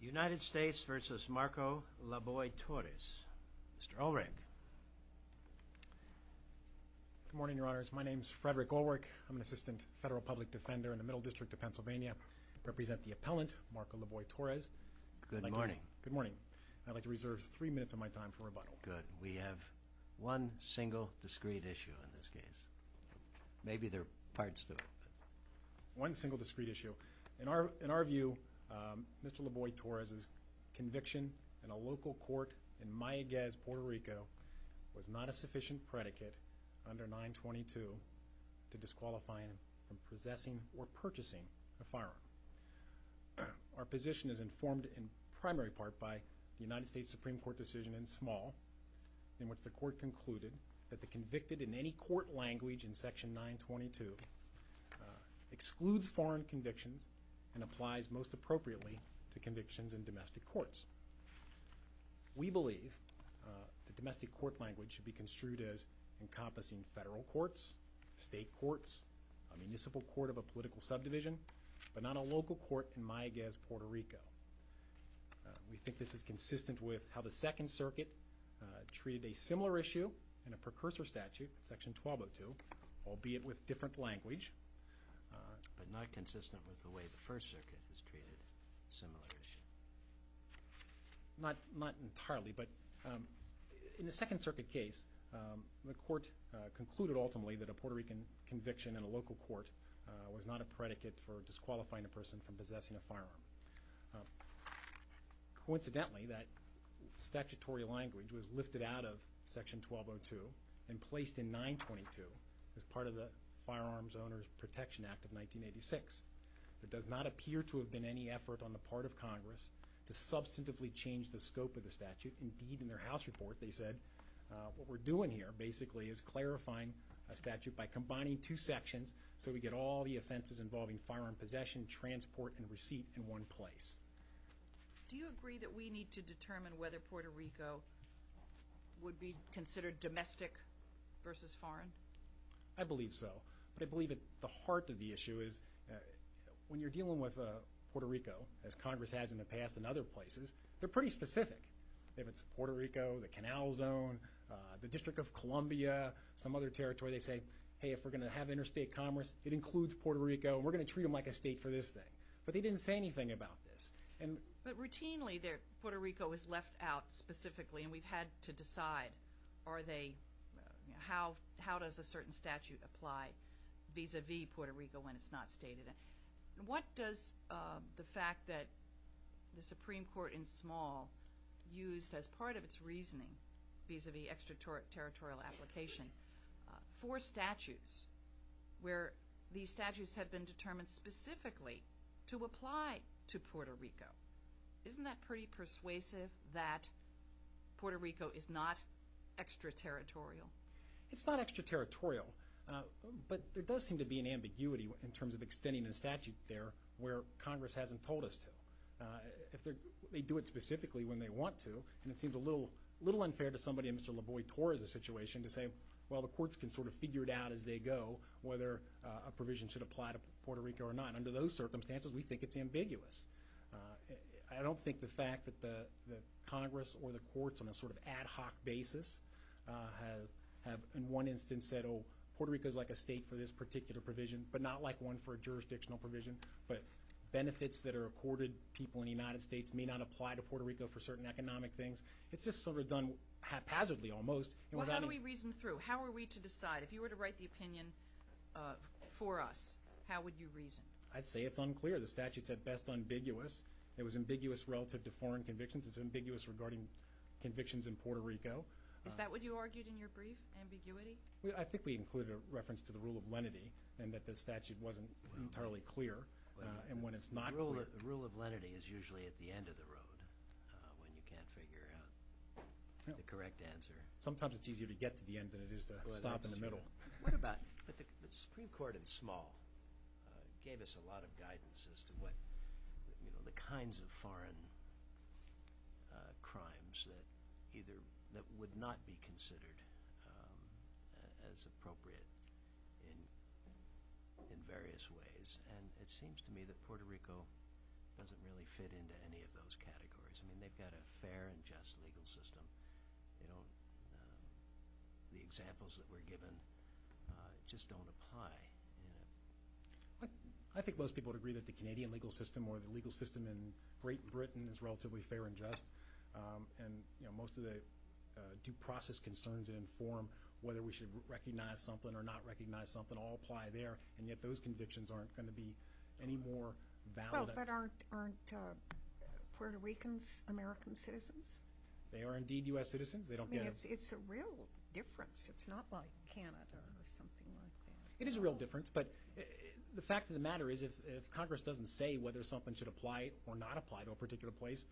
United States v. Marco Laboy Torres Mr. Ulrich Good morning, Your Honors. My name is Frederick Ulrich. I'm an assistant federal public defender in the Middle District of Pennsylvania. I represent the appellant, Marco Laboy Torres. Good morning. Good morning. I'd like to reserve three minutes of my time for rebuttal. Good. We have one single, discrete issue in this case. Maybe there are parts to it. One single, discrete issue. In our view, Mr. Laboy Torres' conviction in a local court in Mayaguez, Puerto Rico was not a sufficient predicate under 922 to disqualify him from possessing or purchasing a firearm. Our position is informed in primary part by the United States Supreme Court decision in small in which the court concluded that the convicted in any court language in Section 922 excludes foreign convictions and applies most appropriately to convictions in domestic courts. We believe the domestic court language should be construed as encompassing federal courts, state courts, a municipal court of a political subdivision, but not a local court in Mayaguez, Puerto Rico. We think this is consistent with how the Second Circuit treated a similar issue in a precursor statute, Section 1202, albeit with different language, but not consistent with the way the First Circuit has treated a similar issue. Not entirely, but in the Second Circuit case, the court concluded ultimately that a Puerto Rican conviction in a local court was not a predicate for disqualifying a person from possessing a firearm. Coincidentally, that statutory language was lifted out of Section 1202 and placed in 922 as part of the Firearms Owners Protection Act of 1986. There does not appear to have been any effort on the part of Congress to substantively change the scope of the statute. Indeed, in their House report they said, what we're doing here basically is clarifying a statute by combining two sections so we get all the offenses involving firearm possession, transport, and receipt in one place. Do you agree that we need to determine whether Puerto Rico would be considered domestic versus foreign? I believe so, but I believe at the heart of the issue is when you're dealing with Puerto Rico, as Congress has in the past in other places, they're pretty specific. If it's Puerto Rico, the Canal Zone, the District of Columbia, some other territory, they say, hey, if we're going to have interstate commerce, it includes Puerto Rico, and we're going to treat them like a state for this thing. But they didn't say anything about this. But routinely Puerto Rico is left out specifically, and we've had to decide how does a certain statute apply vis-à-vis Puerto Rico when it's not stated. What does the fact that the Supreme Court in small used as part of its reasoning vis-à-vis extraterritorial application for statutes where these statutes had been determined specifically to apply to Puerto Rico, isn't that pretty persuasive that Puerto Rico is not extraterritorial? It's not extraterritorial, but there does seem to be an ambiguity in terms of extending a statute there where Congress hasn't told us to. If they do it specifically when they want to, and it seems a little unfair to somebody in Mr. LaVoy-Torres' situation to say, well, the courts can sort of figure it out as they go whether a provision should apply to Puerto Rico or not. Under those circumstances, we think it's ambiguous. I don't think the fact that Congress or the courts on a sort of ad hoc basis have in one instance said, oh, Puerto Rico is like a state for this particular provision, but not like one for a jurisdictional provision, but benefits that are accorded people in the United States may not apply to Puerto Rico for certain economic things. It's just sort of done haphazardly almost. Well, how do we reason through? How are we to decide? If you were to write the opinion for us, how would you reason? I'd say it's unclear. The statute's at best ambiguous. It was ambiguous relative to foreign convictions. It's ambiguous regarding convictions in Puerto Rico. Is that what you argued in your brief, ambiguity? I think we included a reference to the rule of lenity and that the statute wasn't entirely clear. The rule of lenity is usually at the end of the road when you can't figure out the correct answer. Sometimes it's easier to get to the end than it is to stop in the middle. What about the Supreme Court in small gave us a lot of guidance as to the kinds of foreign crimes that would not be considered as appropriate in various ways, and it seems to me that Puerto Rico doesn't really fit into any of those categories. I mean, they've got a fair and just legal system. The examples that were given just don't apply. I think most people would agree that the Canadian legal system or the legal system in Great Britain is relatively fair and just, and most of the due process concerns that inform whether we should recognize something or not recognize something all apply there, and yet those convictions aren't going to be any more valid. But aren't Puerto Ricans American citizens? They are indeed U.S. citizens. I mean, it's a real difference. It's not like Canada or something like that. It is a real difference, but the fact of the matter is if Congress doesn't say whether something should apply or not apply to a particular place,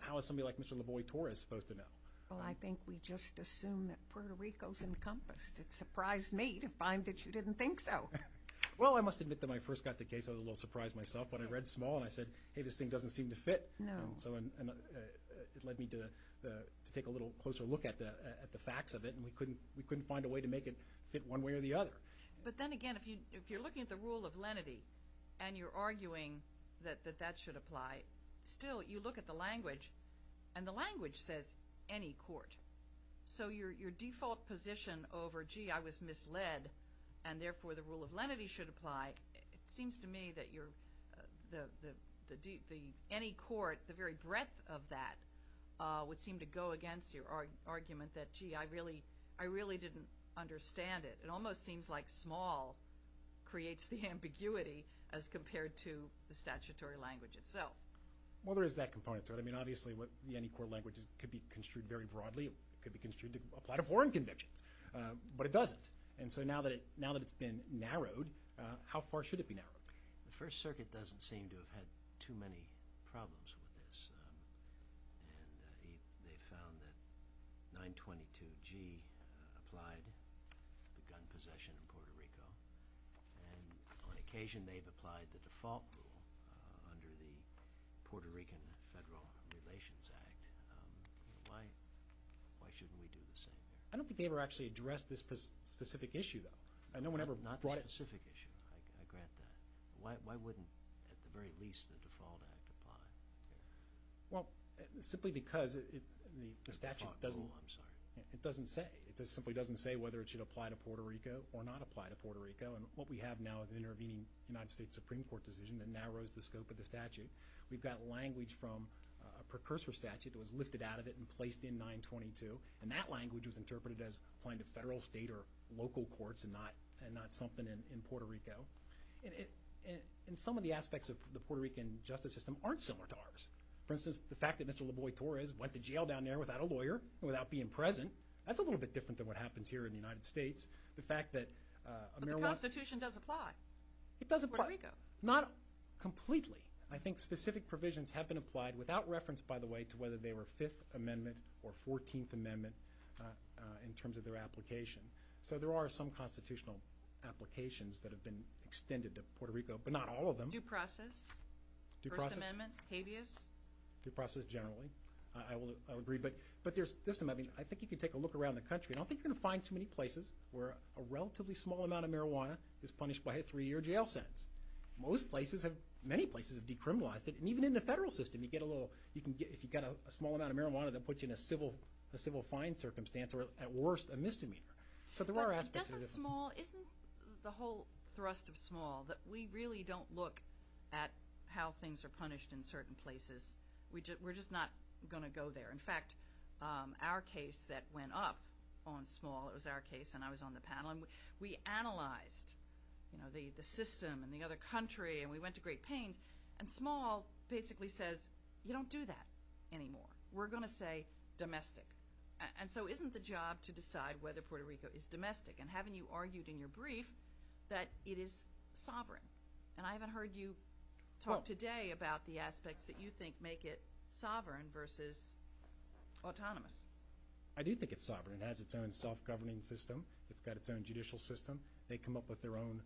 how is somebody like Mr. Lavoie Torres supposed to know? Well, I think we just assume that Puerto Rico is encompassed. It surprised me to find that you didn't think so. Well, I must admit that when I first got the case I was a little surprised myself. When I read small and I said, hey, this thing doesn't seem to fit, and so it led me to take a little closer look at the facts of it, and we couldn't find a way to make it fit one way or the other. But then again, if you're looking at the rule of lenity and you're arguing that that should apply, still you look at the language, and the language says any court. So your default position over, gee, I was misled, and therefore the rule of lenity should apply, it seems to me that the any court, the very breadth of that, would seem to go against your argument that, gee, I really didn't understand it. It almost seems like small creates the ambiguity as compared to the statutory language itself. Well, there is that component to it. I mean, obviously the any court language could be construed very broadly. It could be construed to apply to foreign convictions, but it doesn't. And so now that it's been narrowed, how far should it be narrowed? The First Circuit doesn't seem to have had too many problems with this, and they found that 922G applied for gun possession in Puerto Rico, and on occasion they've applied the default rule under the Puerto Rican Federal Relations Act. Why shouldn't we do the same? I don't think they ever actually addressed this specific issue, though. Not the specific issue, I grant that. Why wouldn't at the very least the default act apply? Well, simply because the statute doesn't say. It simply doesn't say whether it should apply to Puerto Rico or not apply to Puerto Rico, and what we have now is an intervening United States Supreme Court decision that narrows the scope of the statute. We've got language from a precursor statute that was lifted out of it and placed in 922, and that language was interpreted as applying to federal, state, or local courts and not something in Puerto Rico. And some of the aspects of the Puerto Rican justice system aren't similar to ours. For instance, the fact that Mr. LaVoy-Torres went to jail down there without a lawyer, without being present, that's a little bit different than what happens here in the United States. The fact that a marijuana- But the Constitution does apply. It does apply. Puerto Rico. Not completely. I think specific provisions have been applied without reference, by the way, to whether they were Fifth Amendment or Fourteenth Amendment in terms of their application. So there are some constitutional applications that have been extended to Puerto Rico, but not all of them. Due process? First Amendment? Habeas? Due process generally. I will agree. But there's- I think you can take a look around the country. I don't think you're going to find too many places where a relatively small amount of marijuana is punished by a three-year jail sentence. Most places have- many places have decriminalized it, and even in the federal system you get a little- if you've got a small amount of marijuana, they'll put you in a civil fine circumstance or, at worst, a misdemeanor. So there are aspects of this. But doesn't Small- isn't the whole thrust of Small that we really don't look at how things are punished in certain places? We're just not going to go there. In fact, our case that went up on Small- it was our case and I was on the panel- we analyzed the system and the other country, and we went to great pains, and Small basically says, you don't do that anymore. We're going to say domestic. And so isn't the job to decide whether Puerto Rico is domestic? And haven't you argued in your brief that it is sovereign? And I haven't heard you talk today about the aspects that you think make it sovereign versus autonomous. I do think it's sovereign. It has its own self-governing system. It's got its own judicial system. They come up with their own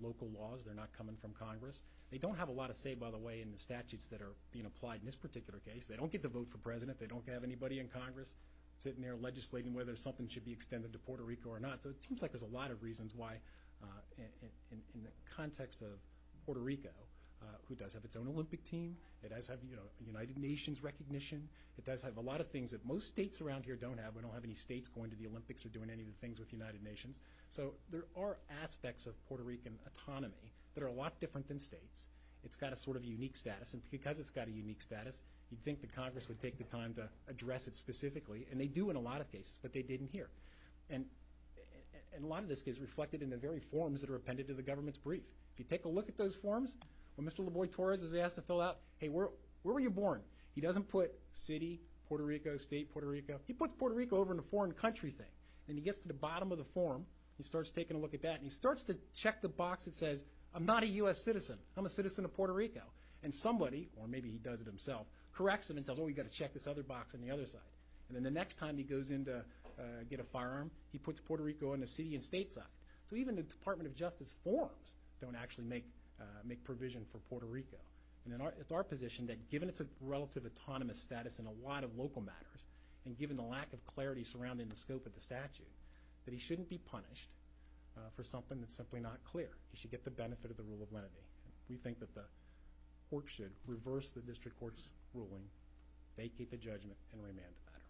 local laws. They're not coming from Congress. They don't have a lot of say, by the way, in the statutes that are being applied in this particular case. They don't get to vote for president. They don't have anybody in Congress sitting there legislating whether something should be extended to Puerto Rico or not. So it seems like there's a lot of reasons why, in the context of Puerto Rico, who does have its own Olympic team. It does have United Nations recognition. It does have a lot of things that most states around here don't have. We don't have any states going to the Olympics or doing any of the things with the United Nations. So there are aspects of Puerto Rican autonomy that are a lot different than states. It's got a sort of unique status, and because it's got a unique status, you'd think that Congress would take the time to address it specifically, and they do in a lot of cases, but they didn't here. And a lot of this is reflected in the very forms that are appended to the government's brief. If you take a look at those forms, when Mr. Laboy-Torres is asked to fill out, hey, where were you born? He doesn't put city, Puerto Rico, state, Puerto Rico. He puts Puerto Rico over in the foreign country thing. And he gets to the bottom of the form, he starts taking a look at that, and he starts to check the box that says, I'm not a U.S. citizen, I'm a citizen of Puerto Rico. And somebody, or maybe he does it himself, corrects him and tells him, oh, you've got to check this other box on the other side. And then the next time he goes in to get a firearm, he puts Puerto Rico on the city and state side. So even the Department of Justice forms don't actually make provision for Puerto Rico. And it's our position that given it's a relative autonomous status in a lot of local matters, and given the lack of clarity surrounding the scope of the statute, that he shouldn't be punished for something that's simply not clear. He should get the benefit of the rule of lenity. We think that the court should reverse the district court's ruling, vacate the judgment, and remand the matter.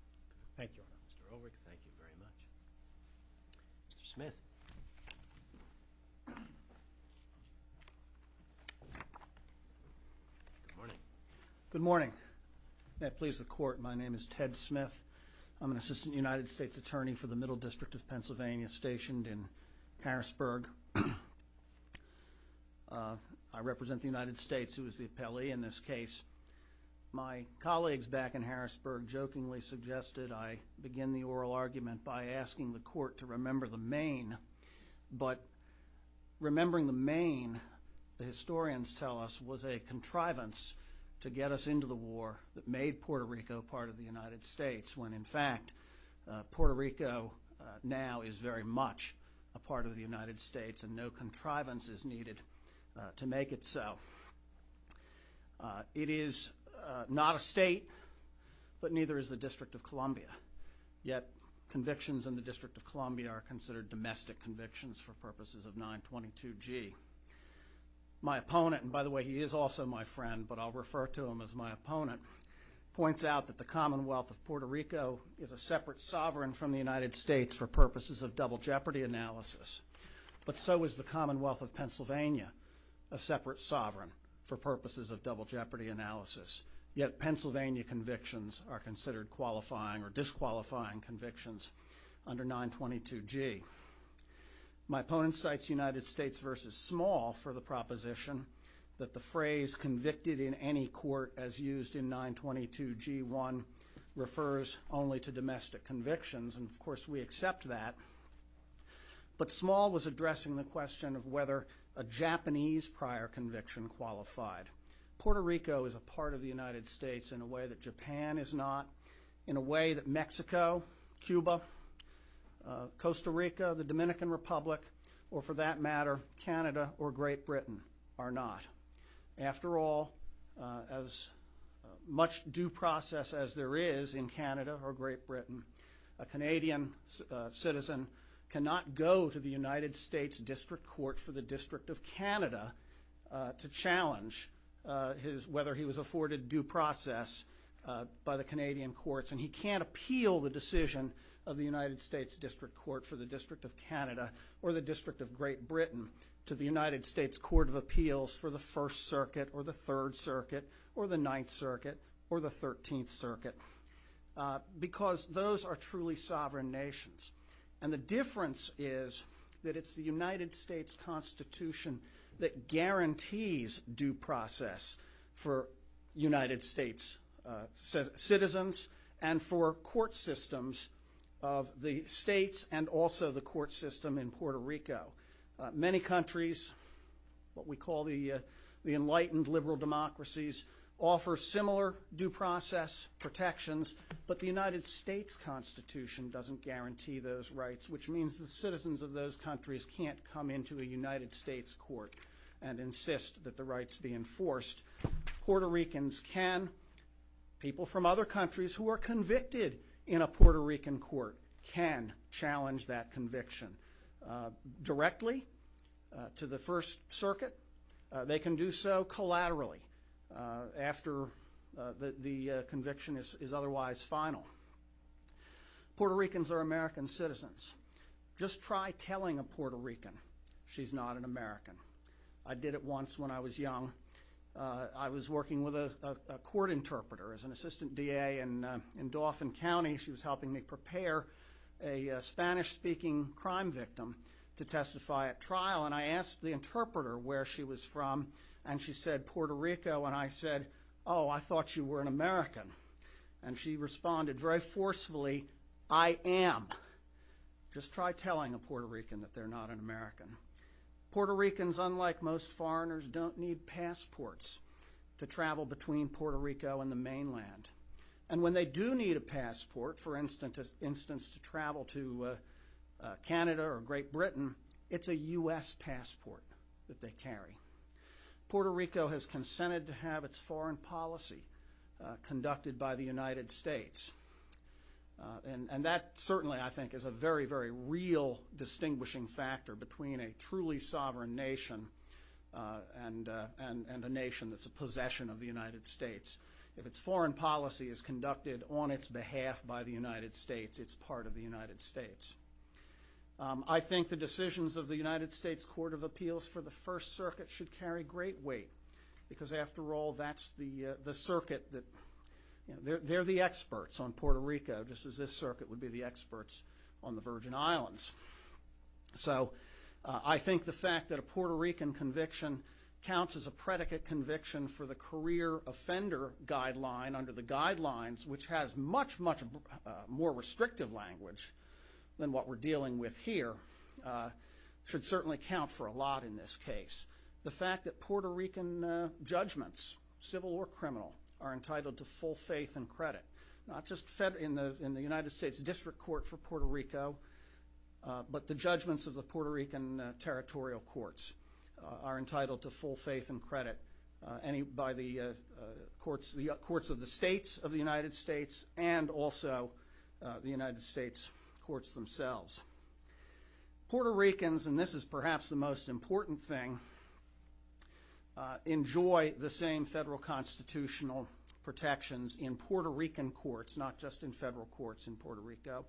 Thank you, Your Honor. Mr. Ulrich, thank you very much. Mr. Smith. Good morning. May it please the court, my name is Ted Smith. I'm an assistant United States attorney for the Middle District of Pennsylvania, stationed in Harrisburg. I represent the United States, who is the appellee in this case. My colleagues back in Harrisburg jokingly suggested I begin the oral argument by asking the court to remember the main. But remembering the main, the historians tell us, was a contrivance to get us into the war that made Puerto Rico part of the United States, when in fact Puerto Rico now is very much a part of the United States, and no contrivance is needed to make it so. It is not a state, but neither is the District of Columbia. Yet convictions in the District of Columbia are considered domestic convictions for purposes of 922G. My opponent, and by the way he is also my friend, but I'll refer to him as my opponent, points out that the Commonwealth of Puerto Rico is a separate sovereign from the United States for purposes of double jeopardy analysis. But so is the Commonwealth of Pennsylvania, a separate sovereign for purposes of double jeopardy analysis. Yet Pennsylvania convictions are considered qualifying or disqualifying convictions under 922G. My opponent cites United States versus Small for the proposition that the phrase convicted in any court as used in 922G1 refers only to domestic convictions, and of course we accept that. But Small was addressing the question of whether a Japanese prior conviction qualified. Puerto Rico is a part of the United States in a way that Japan is not, in a way that Mexico, Cuba, Costa Rica, the Dominican Republic, or for that matter Canada or Great Britain are not. After all, as much due process as there is in Canada or Great Britain, a Canadian citizen cannot go to the United States District Court for the District of Canada to challenge whether he was afforded due process by the Canadian courts, and he can't appeal the decision of the United States District Court for the District of Canada or the District of Great Britain to the United States Court of Appeals for the First Circuit or the Third Circuit or the Ninth Circuit or the Thirteenth Circuit because those are truly sovereign nations. And the difference is that it's the United States Constitution that guarantees due process for United States citizens and for court systems of the states and also the court system in Puerto Rico. Many countries, what we call the enlightened liberal democracies, offer similar due process protections, but the United States Constitution doesn't guarantee those rights, which means the citizens of those countries can't come into a United States court and insist that the rights be enforced. Puerto Ricans can, people from other countries who are convicted in a Puerto Rican court, can challenge that conviction directly to the First Circuit. They can do so collaterally after the conviction is otherwise final. Puerto Ricans are American citizens. Just try telling a Puerto Rican she's not an American. I did it once when I was young. I was working with a court interpreter as an assistant DA in Dauphin County. She was helping me prepare a Spanish-speaking crime victim to testify at trial, and I asked the interpreter where she was from, and she said, Puerto Rico. And I said, oh, I thought you were an American. And she responded very forcefully, I am. Just try telling a Puerto Rican that they're not an American. Puerto Ricans, unlike most foreigners, don't need passports to travel between Puerto Rico and the mainland. And when they do need a passport, for instance, to travel to Canada or Great Britain, it's a U.S. passport that they carry. Puerto Rico has consented to have its foreign policy conducted by the United States. And that certainly, I think, is a very, very real distinguishing factor between a truly sovereign nation and a nation that's a possession of the United States. If its foreign policy is conducted on its behalf by the United States, it's part of the United States. I think the decisions of the United States Court of Appeals for the First Circuit should carry great weight because, after all, that's the circuit that they're the experts on Puerto Rico, just as this circuit would be the experts on the Virgin Islands. So I think the fact that a Puerto Rican conviction counts as a predicate conviction for the career offender guideline under the guidelines, which has much, much more restrictive language than what we're dealing with here, should certainly count for a lot in this case. The fact that Puerto Rican judgments, civil or criminal, are entitled to full faith and credit, not just in the United States District Court for Puerto Rico, but the judgments of the Puerto Rican territorial courts are entitled to full faith and credit by the courts of the states of the United States and also the United States courts themselves. Puerto Ricans, and this is perhaps the most important thing, enjoy the same federal constitutional protections in Puerto Rican courts, not just in federal courts in Puerto Rico,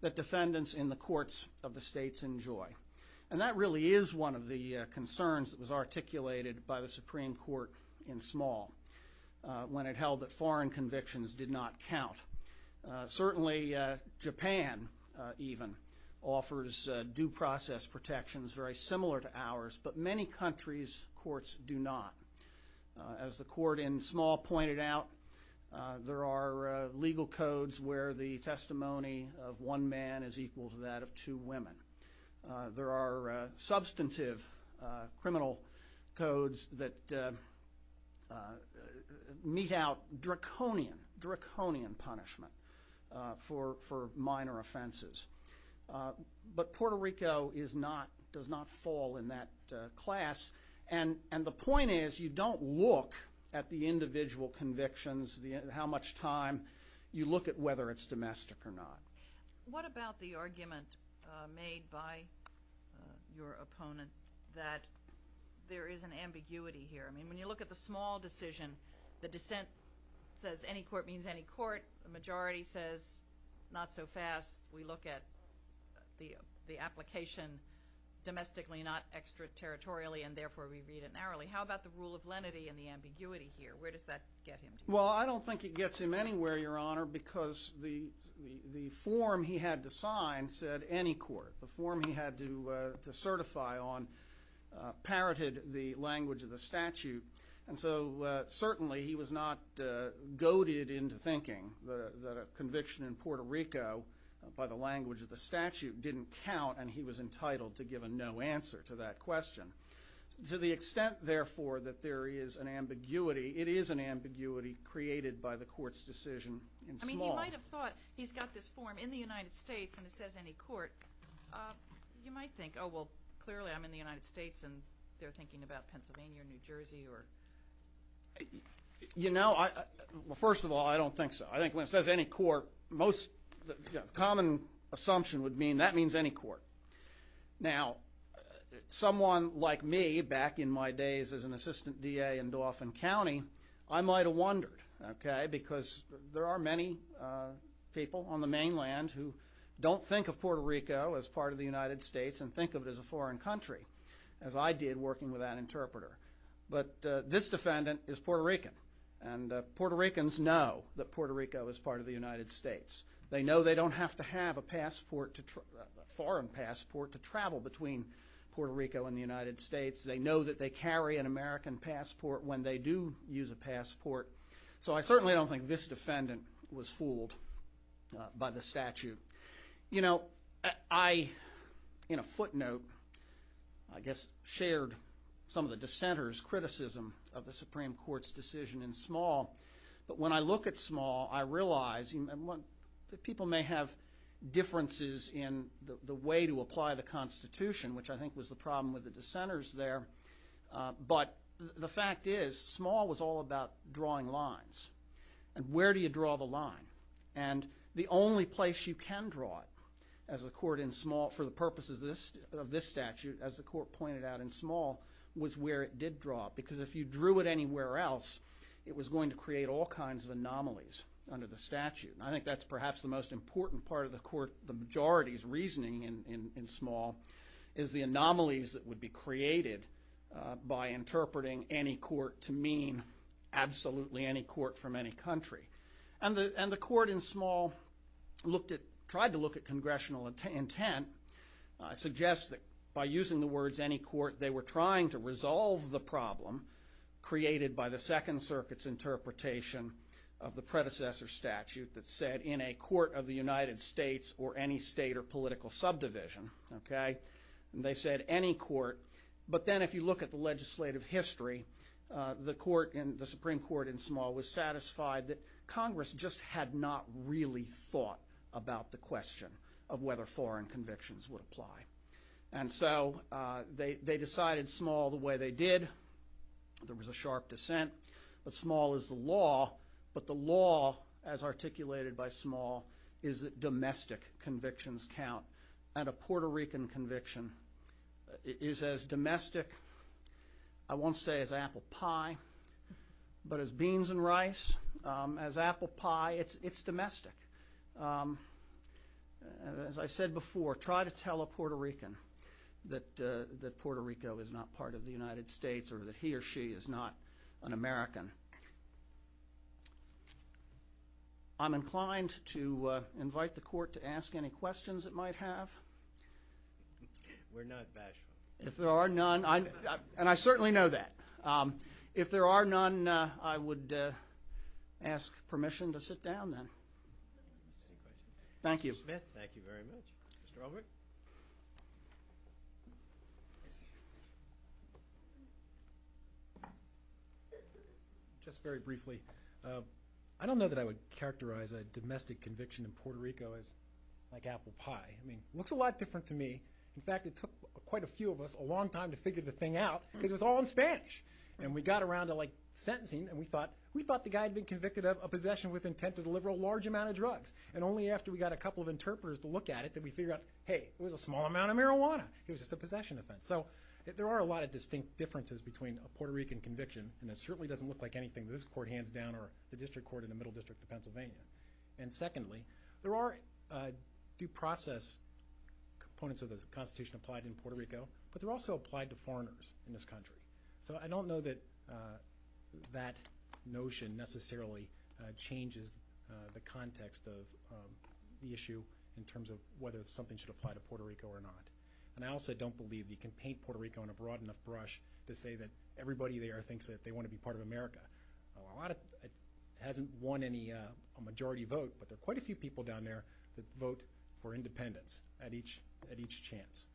that defendants in the courts of the states enjoy. And that really is one of the concerns that was articulated by the Supreme Court in small when it held that foreign convictions did not count. Certainly Japan even offers due process protections very similar to ours, but many countries' courts do not. As the court in small pointed out, there are legal codes where the testimony of one man is equal to that of two women. There are substantive criminal codes that meet out draconian punishment for minor offenses. But Puerto Rico does not fall in that class, and the point is you don't look at the individual convictions, how much time, you look at whether it's domestic or not. What about the argument made by your opponent that there is an ambiguity here? I mean, when you look at the small decision, the dissent says any court means any court. The majority says not so fast. We look at the application domestically, not extraterritorially, and therefore we read it narrowly. How about the rule of lenity and the ambiguity here? Where does that get him? Well, I don't think it gets him anywhere, Your Honor, because the form he had to sign said any court. The form he had to certify on parroted the language of the statute, and so certainly he was not goaded into thinking that a conviction in Puerto Rico by the language of the statute didn't count, and he was entitled to give a no answer to that question. To the extent, therefore, that there is an ambiguity, it is an ambiguity created by the court's decision in small. I mean, he might have thought he's got this form in the United States and it says any court. You might think, oh, well, clearly I'm in the United States and they're thinking about Pennsylvania or New Jersey. You know, first of all, I don't think so. I think when it says any court, the common assumption would be that means any court. Now, someone like me back in my days as an assistant DA in Dauphin County, I might have wondered, okay, because there are many people on the mainland who don't think of Puerto Rico as part of the United States and think of it as a foreign country, as I did working with that interpreter. But this defendant is Puerto Rican, and Puerto Ricans know that Puerto Rico is part of the United States. They know they don't have to have a passport, a foreign passport, to travel between Puerto Rico and the United States. They know that they carry an American passport when they do use a passport. So I certainly don't think this defendant was fooled by the statute. You know, I, in a footnote, I guess shared some of the dissenters' criticism of the Supreme Court's decision in Small. But when I look at Small, I realize that people may have differences in the way to apply the Constitution, which I think was the problem with the dissenters there. But the fact is Small was all about drawing lines. And where do you draw the line? And the only place you can draw it as a court in Small, for the purposes of this statute, as the court pointed out in Small, was where it did draw it. Because if you drew it anywhere else, it was going to create all kinds of anomalies under the statute. And I think that's perhaps the most important part of the court, the majority's reasoning in Small, is the anomalies that would be created by interpreting any court to mean absolutely any court from any country. And the court in Small tried to look at congressional intent, suggests that by using the words any court, they were trying to resolve the problem created by the Second Circuit's interpretation of the predecessor statute that said in a court of the United States or any state or political subdivision, okay? They said any court. But then if you look at the legislative history, the Supreme Court in Small was satisfied that Congress just had not really thought about the question of whether foreign convictions would apply. And so they decided Small the way they did. There was a sharp dissent. But Small is the law. But the law, as articulated by Small, is that domestic convictions count. And a Puerto Rican conviction is as domestic, I won't say as apple pie, but as beans and rice, as apple pie. It's domestic. As I said before, try to tell a Puerto Rican that Puerto Rico is not part of the United States or that he or she is not an American. I'm inclined to invite the court to ask any questions it might have. We're not bashful. If there are none, and I certainly know that. If there are none, I would ask permission to sit down then. Mr. Smith, thank you very much. Mr. Ulrich? Just very briefly, I don't know that I would characterize a domestic conviction in Puerto Rico as like apple pie. I mean, it looks a lot different to me. In fact, it took quite a few of us a long time to figure the thing out because it was all in Spanish. And we got around to, like, sentencing, and we thought the guy had been convicted of a possession with intent to deliver a large amount of drugs. And only after we got a couple of interpreters to look at it did we figure out, hey, it was a small amount of marijuana. It was just a possession offense. So there are a lot of distinct differences between a Puerto Rican conviction, and it certainly doesn't look like anything this court hands down or the district court in the middle district of Pennsylvania. And secondly, there are due process components of the Constitution applied in Puerto Rico, but they're also applied to foreigners in this country. So I don't know that that notion necessarily changes the context of the issue in terms of whether something should apply to Puerto Rico or not. And I also don't believe you can paint Puerto Rico on a broad enough brush to say that everybody there thinks that they want to be part of America. A lot of it hasn't won a majority vote, but there are quite a few people down there that vote for independence at each chance.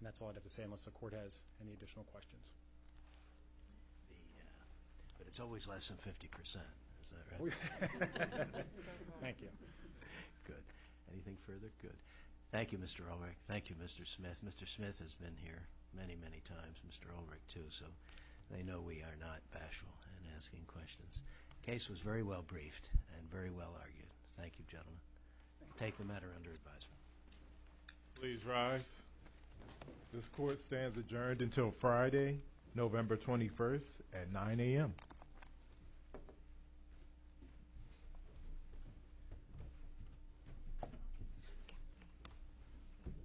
And that's all I'd have to say unless the court has any additional questions. But it's always less than 50 percent, is that right? Thank you. Good. Anything further? Good. Thank you, Mr. Ulrich. Thank you, Mr. Smith. Mr. Smith has been here many, many times, Mr. Ulrich too, so they know we are not bashful in asking questions. The case was very well briefed and very well argued. Thank you, gentlemen. We'll take the matter under advisement. Please rise. This court stands adjourned until Friday, November 21st at 9 a.m.